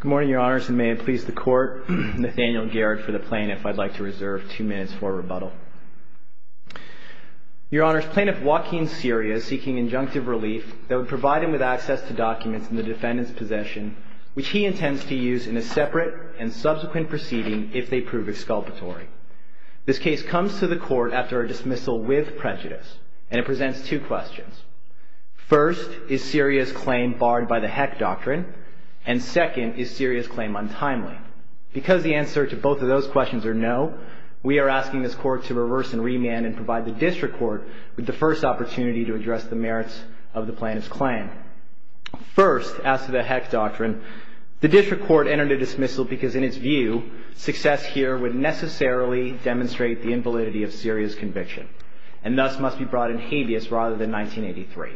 Good morning, Your Honors, and may it please the Court, Nathaniel Garrett for the Plaintiff. I'd like to reserve two minutes for rebuttal. Your Honors, Plaintiff Joaquin Ciria is seeking injunctive relief that would provide him with access to documents in the defendant's possession, which he intends to use in a separate and subsequent proceeding if they prove exculpatory. This case comes to the Court after a dismissal with prejudice, and it presents two questions. First, is Ciria's claim barred by the Heck Doctrine? And second, is Ciria's claim untimely? Because the answer to both of those questions are no, we are asking this Court to reverse and remand and provide the District Court with the first opportunity to address the merits of the plaintiff's claim. First, as to the Heck Doctrine, the District Court entered a dismissal because in its view, success here would necessarily demonstrate the invalidity of Ciria's conviction, and thus must be brought in habeas rather than 1983.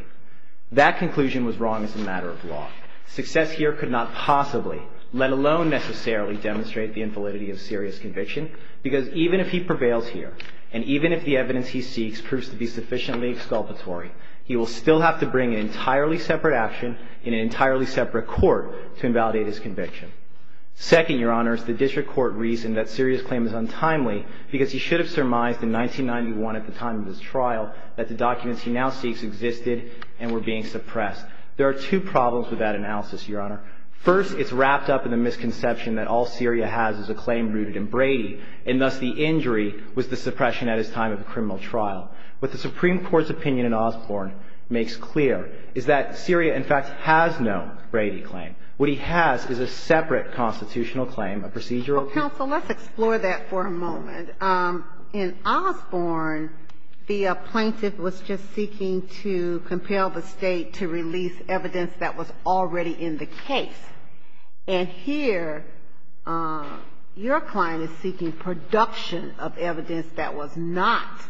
That conclusion was wrong as a matter of law. Success here could not possibly, let alone necessarily, demonstrate the invalidity of Ciria's conviction, because even if he prevails here, and even if the evidence he seeks proves to be sufficiently exculpatory, he will still have to bring an entirely separate action in an entirely separate Court to invalidate his conviction. Second, Your Honor, is the District Court reason that Ciria's claim is untimely, because he should have surmised in 1991 at the time of his trial that the documents he now seeks existed and were being suppressed. There are two problems with that analysis, Your Honor. First, it's wrapped up in the misconception that all Ciria has is a claim rooted in Brady, and thus the injury was the suppression at his time of a criminal trial. What the Supreme Court's opinion in Osborne makes clear is that Ciria, in fact, has no Brady claim. What he has is a separate constitutional claim, a procedural claim. Counsel, let's explore that for a moment. In Osborne, the plaintiff was just seeking to compel the State to release evidence that was already in the case. And here, your client is seeking production of evidence that was not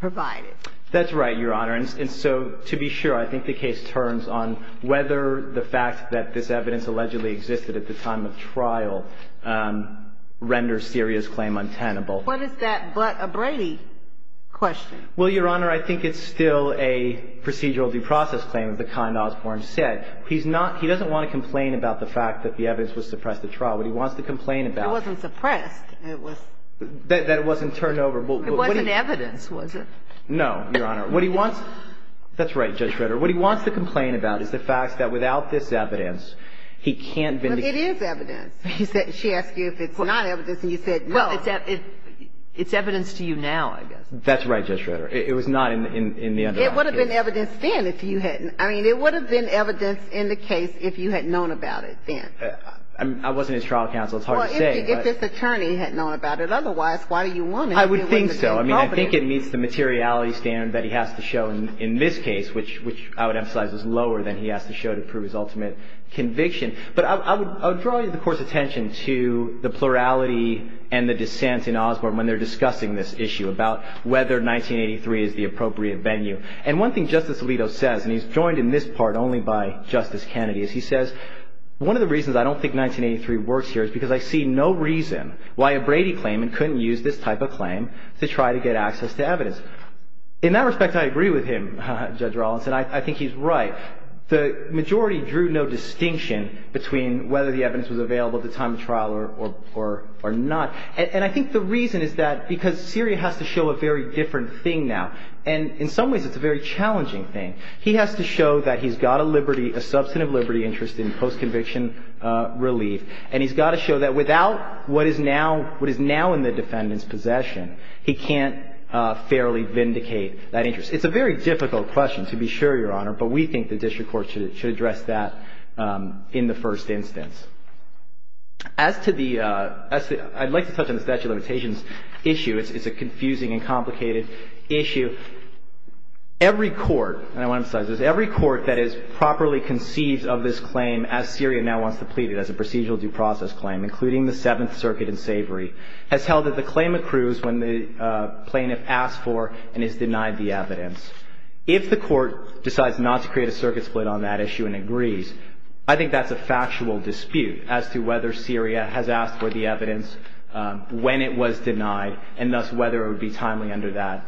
provided. That's right, Your Honor. And so to be sure, I think the case turns on whether the fact that this evidence allegedly existed at the time of trial renders Ciria's claim untenable. What is that but a Brady question? Well, Your Honor, I think it's still a procedural due process claim, the kind Osborne said. He's not – he doesn't want to complain about the fact that the evidence was suppressed at trial. What he wants to complain about – It wasn't suppressed. It was – That it wasn't turned over. It wasn't evidence, was it? No, Your Honor. What he wants – that's right, Judge Ritter. What he wants to complain about is the fact that without this evidence, he can't vindicate – Well, it is evidence. She asked you if it's not evidence, and you said no. Well, it's evidence to you now, I guess. That's right, Judge Ritter. It was not in the underlying case. It would have been evidence then if you hadn't – I mean, it would have been evidence in the case if you had known about it then. I wasn't his trial counsel. It's hard to say, but – Well, if this attorney had known about it otherwise, why do you want it if it wasn't the same company? I would think so. I mean, I think it meets the materiality standard that he has to show in this case, which I would emphasize is lower than he has to show to prove his ultimate conviction. But I would draw the Court's attention to the plurality and the dissent in Osborne when they're discussing this issue about whether 1983 is the appropriate venue. And one thing Justice Alito says – and he's joined in this part only by Justice Kennedy – In that respect, I agree with him, Judge Rawlinson. I think he's right. The majority drew no distinction between whether the evidence was available at the time of trial or not. And I think the reason is that because Syria has to show a very different thing now. And in some ways, it's a very challenging thing. He has to show that he's got a liberty – a substantive liberty interest in post-conviction relief. And he's got to show that without what is now in the defendant's possession, he can't fairly vindicate that interest. It's a very difficult question, to be sure, Your Honor, but we think the district court should address that in the first instance. As to the – I'd like to touch on the statute of limitations issue. It's a confusing and complicated issue. Every court – and I want to emphasize this – every court that has properly conceived of this claim as Syria now wants to plead it, as a procedural due process claim, including the Seventh Circuit in Savory, has held that the claim accrues when the plaintiff asks for and is denied the evidence. If the court decides not to create a circuit split on that issue and agrees, I think that's a factual dispute as to whether Syria has asked for the evidence when it was denied and thus whether it would be timely under that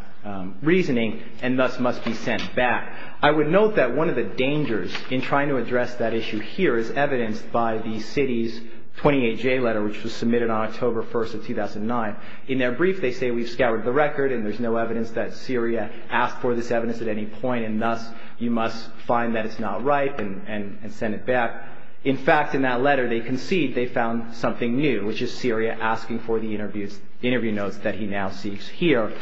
reasoning and thus must be sent back. I would note that one of the dangers in trying to address that issue here is evidenced by the city's 28J letter, which was submitted on October 1st of 2009. In their brief, they say, we've scoured the record and there's no evidence that Syria asked for this evidence at any point and thus you must find that it's not right and send it back. In fact, in that letter, they concede they found something new, which is Syria asking for the interview notes that he now seeks here.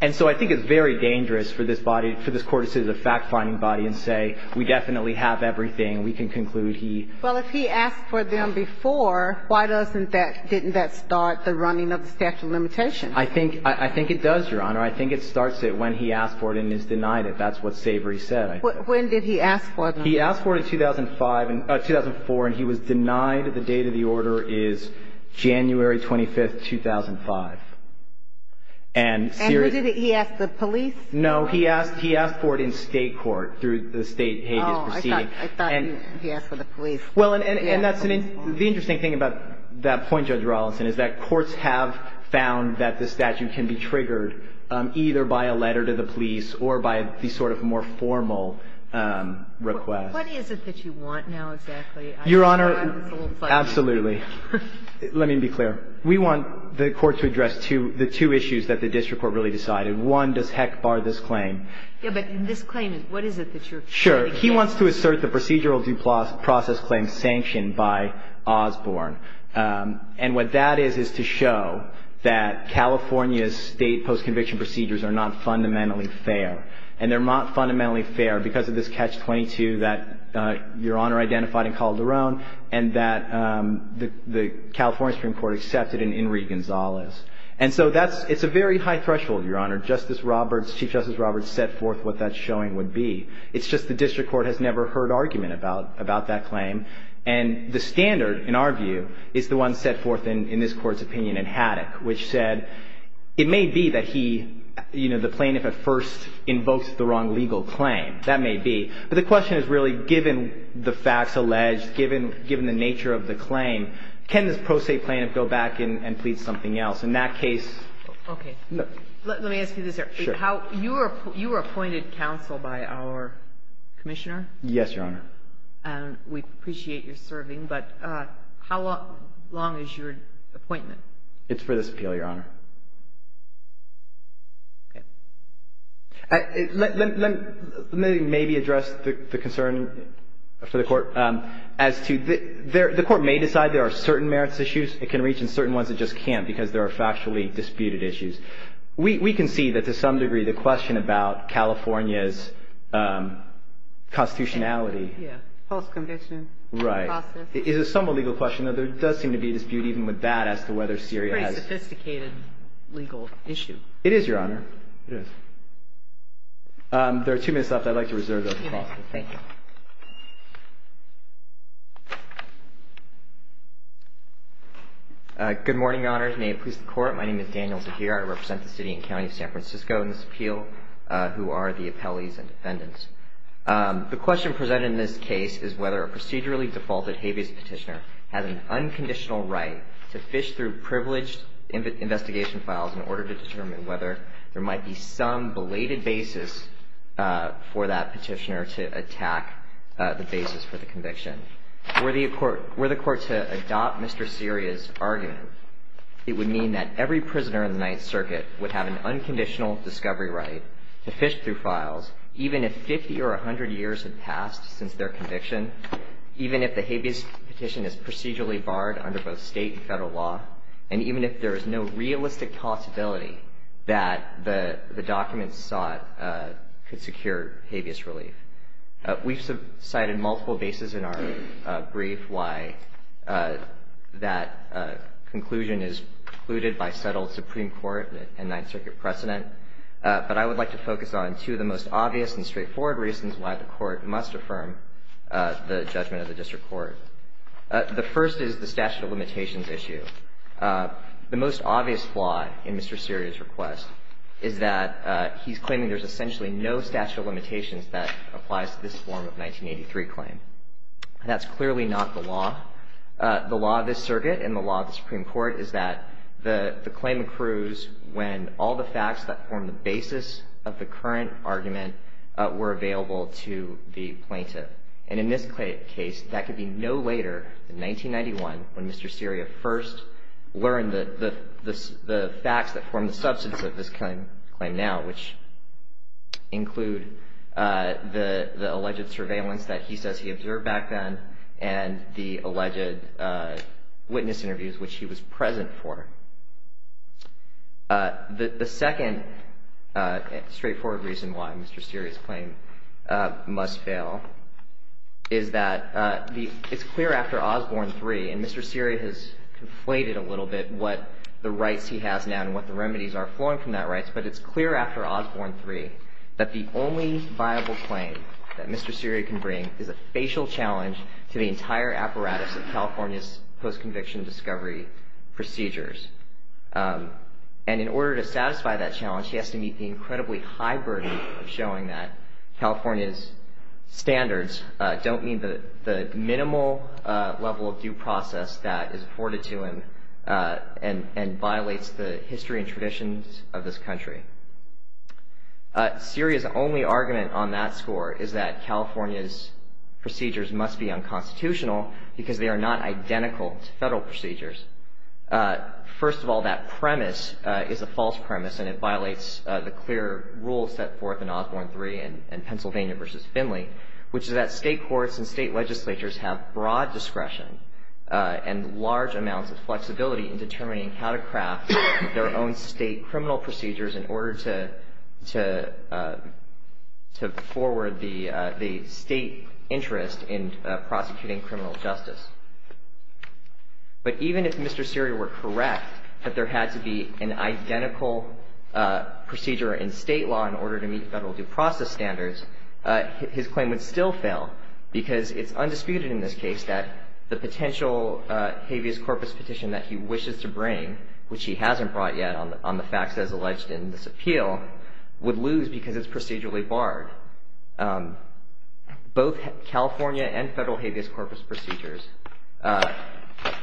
And so I think it's very dangerous for this body – for this court to sit as a fact-finding body and say, we definitely have everything. We can conclude he – Well, if he asked for them before, why doesn't that – didn't that start the running of the statute of limitations? I think – I think it does, Your Honor. I think it starts it when he asked for it and is denied it. That's what Savory said, I think. When did he ask for them? He asked for it in 2005 – 2004 and he was denied the date of the order is January 25th, 2005. And Syria – And who did he – he asked the police? No, he asked – he asked for it in state court through the state pages proceeding. Oh, I thought – I thought he asked for the police. Well, and that's an – the interesting thing about that point, Judge Rollinson, is that courts have found that the statute can be triggered either by a letter to the police or by the sort of more formal request. What is it that you want now, exactly? Your Honor, absolutely. Let me be clear. We want the Court to address two – the two issues that the district court really decided. One, does Heck bar this claim? Yes, but this claim is – what is it that you're – Sure. He wants to assert the procedural due process claim sanctioned by Osborne. And what that is, is to show that California's state post-conviction procedures are not fundamentally fair. And they're not fundamentally fair because of this catch-22 that Your Honor identified in Calderon and that the California Supreme Court accepted in Enrique Gonzalez. And so that's – it's a very high threshold, Your Honor. Justice Roberts – Chief Justice Roberts set forth what that showing would be. It's just the district court has never heard argument about – about that claim. And the standard, in our view, is the one set forth in this Court's opinion in Haddock, which said it may be that he – you know, the plaintiff at first invokes the wrong legal claim. That may be. But the question is really, given the facts alleged, given the nature of the claim, can this pro se plaintiff go back and plead something else? In that case – Okay. Let me ask you this, sir. Sure. How – you were appointed counsel by our commissioner? Yes, Your Honor. And we appreciate your serving, but how long is your appointment? It's for this appeal, Your Honor. Okay. Let me maybe address the concern for the Court as to – the Court may decide there are certain merits issues. It can reach in certain ones. It just can't because there are factually disputed issues. We can see that, to some degree, the question about California's constitutionality – Yeah. Post-conviction process. Right. It is somewhat a legal question, though there does seem to be a dispute even with that as to whether Syria has – It's a pretty sophisticated legal issue. It is, Your Honor. It is. There are two minutes left. I'd like to reserve those. Okay. Thank you. Good morning, Your Honors. May it please the Court. My name is Daniel Zahir. I represent the City and County of San Francisco in this appeal, who are the appellees and defendants. The question presented in this case is whether a procedurally defaulted habeas petitioner has an unconditional right to fish through privileged investigation files in order to determine whether there might be some belated basis for that petitioner to attack the basis for the conviction. Were the Court to adopt Mr. Syria's argument, it would mean that every prisoner in the Ninth Circuit would have an unconditional discovery right to fish through files even if 50 or 100 years had passed since their conviction, even if the habeas petition is procedurally barred under both State and Federal law, and even if there is no realistic possibility that the documents sought could secure habeas relief. We've cited multiple bases in our brief why that conclusion is precluded by settled Supreme Court and Ninth Circuit precedent, but I would like to focus on two of the most obvious and straightforward reasons why the Court must affirm the judgment of the District Court. The first is the statute of limitations issue. The most obvious flaw in Mr. Syria's request is that he's claiming there's essentially no statute of limitations that applies to this form of 1983 claim. That's clearly not the law. The law of this circuit and the law of the Supreme Court is that the claim accrues when all the facts that form the basis of the current argument were available to the plaintiff. And in this case, that could be no later than 1991 when Mr. Syria first learned the facts that form the substance of this claim now, which include the alleged surveillance that he says he observed back then and the alleged witness interviews which he was present for. The second straightforward reason why Mr. Syria's claim must fail is that it's clear after Osborne 3, and Mr. Syria has conflated a couple of things in that right, but it's clear after Osborne 3 that the only viable claim that Mr. Syria can bring is a facial challenge to the entire apparatus of California's post-conviction discovery procedures. And in order to satisfy that challenge, he has to meet the incredibly high burden of showing that California's standards don't meet the standards of this country. Syria's only argument on that score is that California's procedures must be unconstitutional because they are not identical to federal procedures. First of all, that premise is a false premise and it violates the clear rules set forth in Osborne 3 and Pennsylvania v. Finley, which is that state courts and state legislatures have broad discretion and large amounts of flexibility in determining how to craft their own state criminal procedures in order to forward the state interest in prosecuting criminal justice. But even if Mr. Syria were correct that there had to be an identical procedure in state law in order to meet federal due process standards, his claim would still fail because it's undisputed in this case that the potential habeas corpus petition that he wishes to bring, which he has alleged in this appeal, would lose because it's procedurally barred. Both California and federal habeas corpus procedures are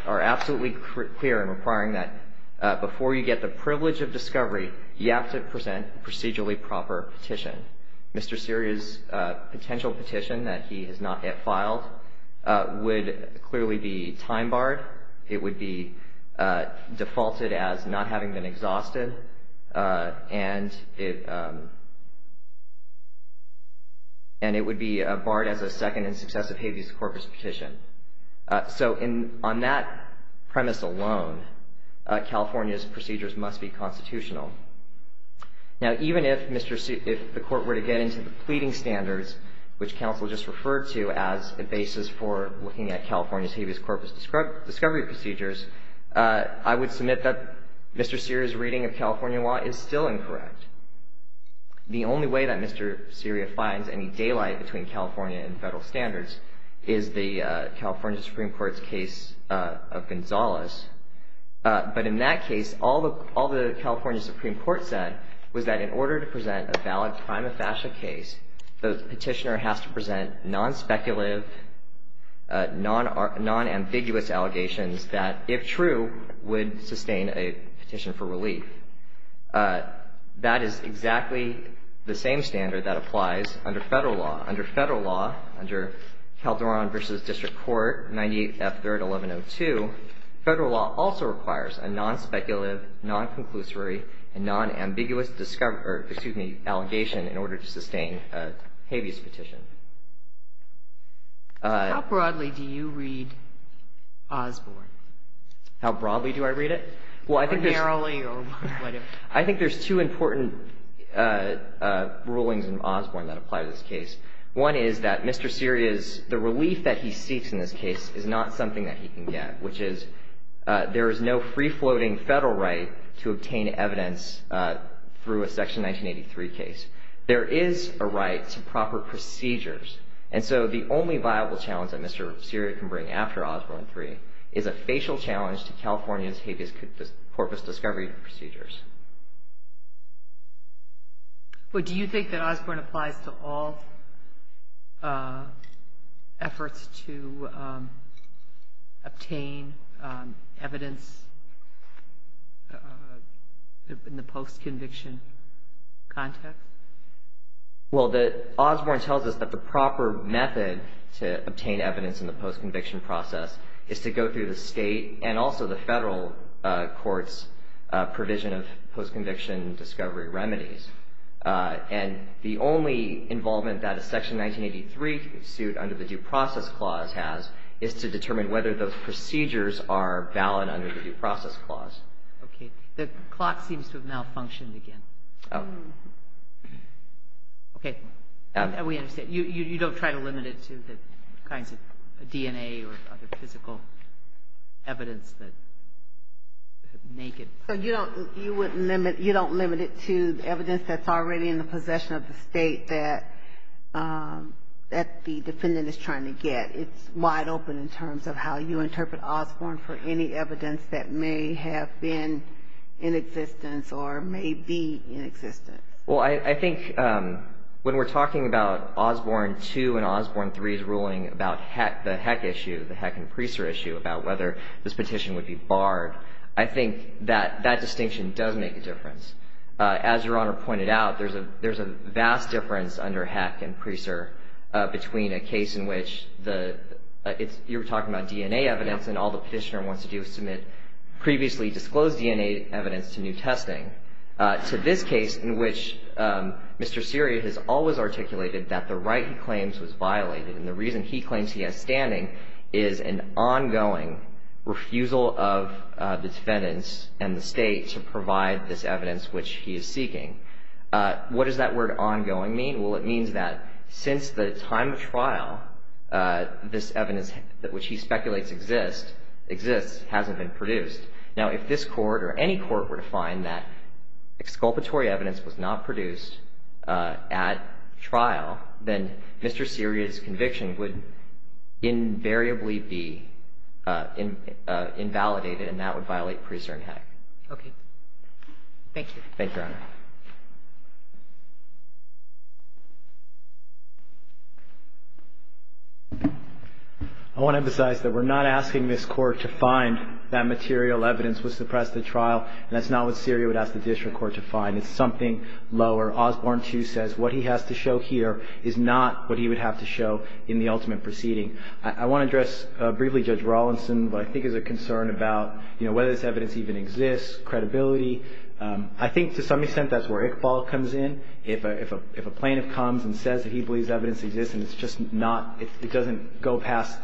absolutely clear in requiring that before you get the privilege of discovery, you have to present a procedurally proper petition. Mr. Syria's potential petition that he has not yet filed would clearly be time barred. It would be defaulted as not having been exhausted and it would be barred as a second and successive habeas corpus petition. So on that premise alone, California's procedures must be constitutional. Now, even if the court were to get into the pleading standards, which counsel just referred to as the basis for looking at California's discovery procedures, I would submit that Mr. Syria's reading of California law is still incorrect. The only way that Mr. Syria finds any daylight between California and federal standards is the California Supreme Court's case of Gonzalez. But in that case, all the California Supreme Court said was that in order to present a valid prima facie case, the petitioner has to present non-speculative, non-ambiguous allegations that, if true, would sustain a petition for relief. That is exactly the same standard that applies under federal law. Under federal law, under Calderon v. District Court 98F3rd1102, federal law also requires a non-speculative, non-conclusory and non-ambiguous discovery or, excuse me, allegation in order to sustain a habeas petition. How broadly do you read Osborne? How broadly do I read it? Or narrowly or whatever. I think there's two important rulings in Osborne that apply to this case. One is that Mr. Syria's — the relief that he seeks in this case is not something that he can get, which is there is no free-floating federal right to obtain evidence through a Section 1983 case. There is a right to proper procedures. And so the only viable challenge that Mr. Syria can bring after Osborne III is a facial challenge to California's habeas corpus discovery procedures. Well, do you think that Osborne applies to all efforts to obtain evidence in the post-conviction context? Well, Osborne tells us that the proper method to obtain evidence in the post-conviction process is to go through the state and also the federal court's provision of post-conviction discovery remedies. And the only involvement that a Section 1983 suit under the Due Process Clause has is to determine whether those procedures are valid under the Due Process Clause. Okay. The clock seems to have malfunctioned again. Oh. Okay. We understand. You don't try to limit it to the kinds of DNA or other physical evidence that naked — So you don't limit it to the evidence that's already in the possession of the state that the defendant is trying to get. It's wide open in terms of how you interpret Osborne for any evidence that may have been in existence or may be in existence. Well, I think when we're talking about Osborne 2 and Osborne 3's ruling about the Heck issue, the Heck and Priester issue, about whether this petition would be barred, I think that that distinction does make a difference. As Your Honor pointed out, there's a vast difference under Heck and Priester between a case in which the — you were talking about DNA evidence and all the petitioner wants to do is submit previously disclosed DNA evidence to new testing, to this case in which Mr. Seria has always articulated that the right he claims was violated, and the reason he claims he has standing is an ongoing refusal of the defendants and the state to provide this evidence which he is seeking. What does that word ongoing mean? Well, it means that since the time of trial, this evidence which he speculates exists hasn't been produced. Now, if this court or any court were to find that exculpatory evidence was not produced at trial, then Mr. Seria's conviction would invariably be invalidated, and that would violate Priester and Heck. Okay. Thank you, Your Honor. I want to emphasize that we're not asking this court to find that material evidence was suppressed at trial, and that's not what Seria would ask the district court to find. It's something lower. Osborne, too, says what he has to show here is not what he would have to show in the ultimate proceeding. I want to address briefly Judge Rawlinson, what I think is a concern about, you know, whether this evidence even exists, credibility. If a plaintiff comes and says that he believes evidence exists and it's just not, it doesn't go past,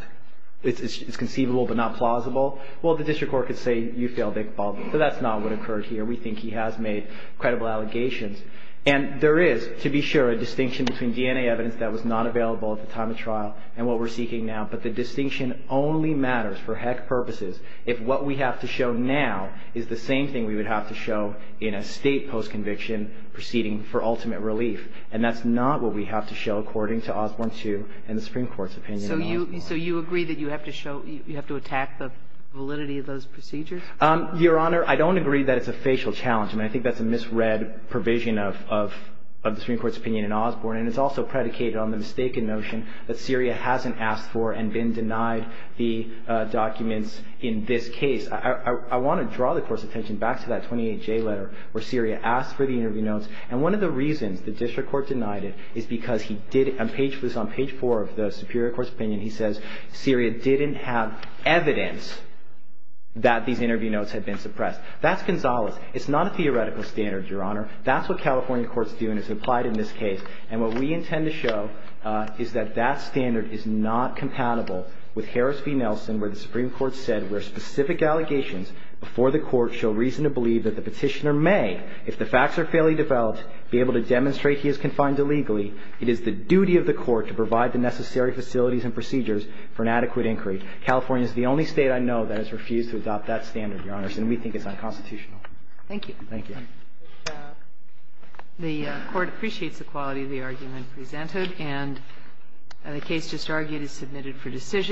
it's conceivable but not plausible, well, the district court could say you failed, Iqbal, but that's not what occurred here. We think he has made credible allegations. And there is, to be sure, a distinction between DNA evidence that was not available at the time of trial and what we're seeking now, but the distinction only matters for Heck purposes if what we have to show now is the same thing we would have to show in a State post-conviction proceeding for ultimate relief. And that's not what we have to show, according to Osborne, too, in the Supreme Court's opinion in Osborne. So you agree that you have to show, you have to attack the validity of those procedures? Your Honor, I don't agree that it's a facial challenge. I mean, I think that's a misread provision of the Supreme Court's opinion in Osborne, and it's also predicated on the mistaken notion that Seria hasn't asked for and been denied the documents in this case. I want to draw the Court's attention back to that 28J letter where Seria asked for the interview notes, and one of the reasons the district court denied it is because he did, on page four of the Superior Court's opinion, he says Seria didn't have evidence that these interview notes had been suppressed. That's Gonzales. It's not a theoretical standard, Your Honor. That's what California courts do, and it's applied in this case. And what we intend to show is that that standard is not compatible with Harris v. Nelson, where the Supreme Court said where specific allegations before the Court show reason to believe that the Petitioner may, if the facts are fairly developed, be able to demonstrate he is confined illegally, it is the duty of the Court to provide the necessary facilities and procedures for an adequate inquiry. California is the only State I know that has refused to adopt that standard, Your Honor, and we think it's unconstitutional. Thank you. Thank you. The Court appreciates the quality of the argument presented, and the case just argued is submitted for decision.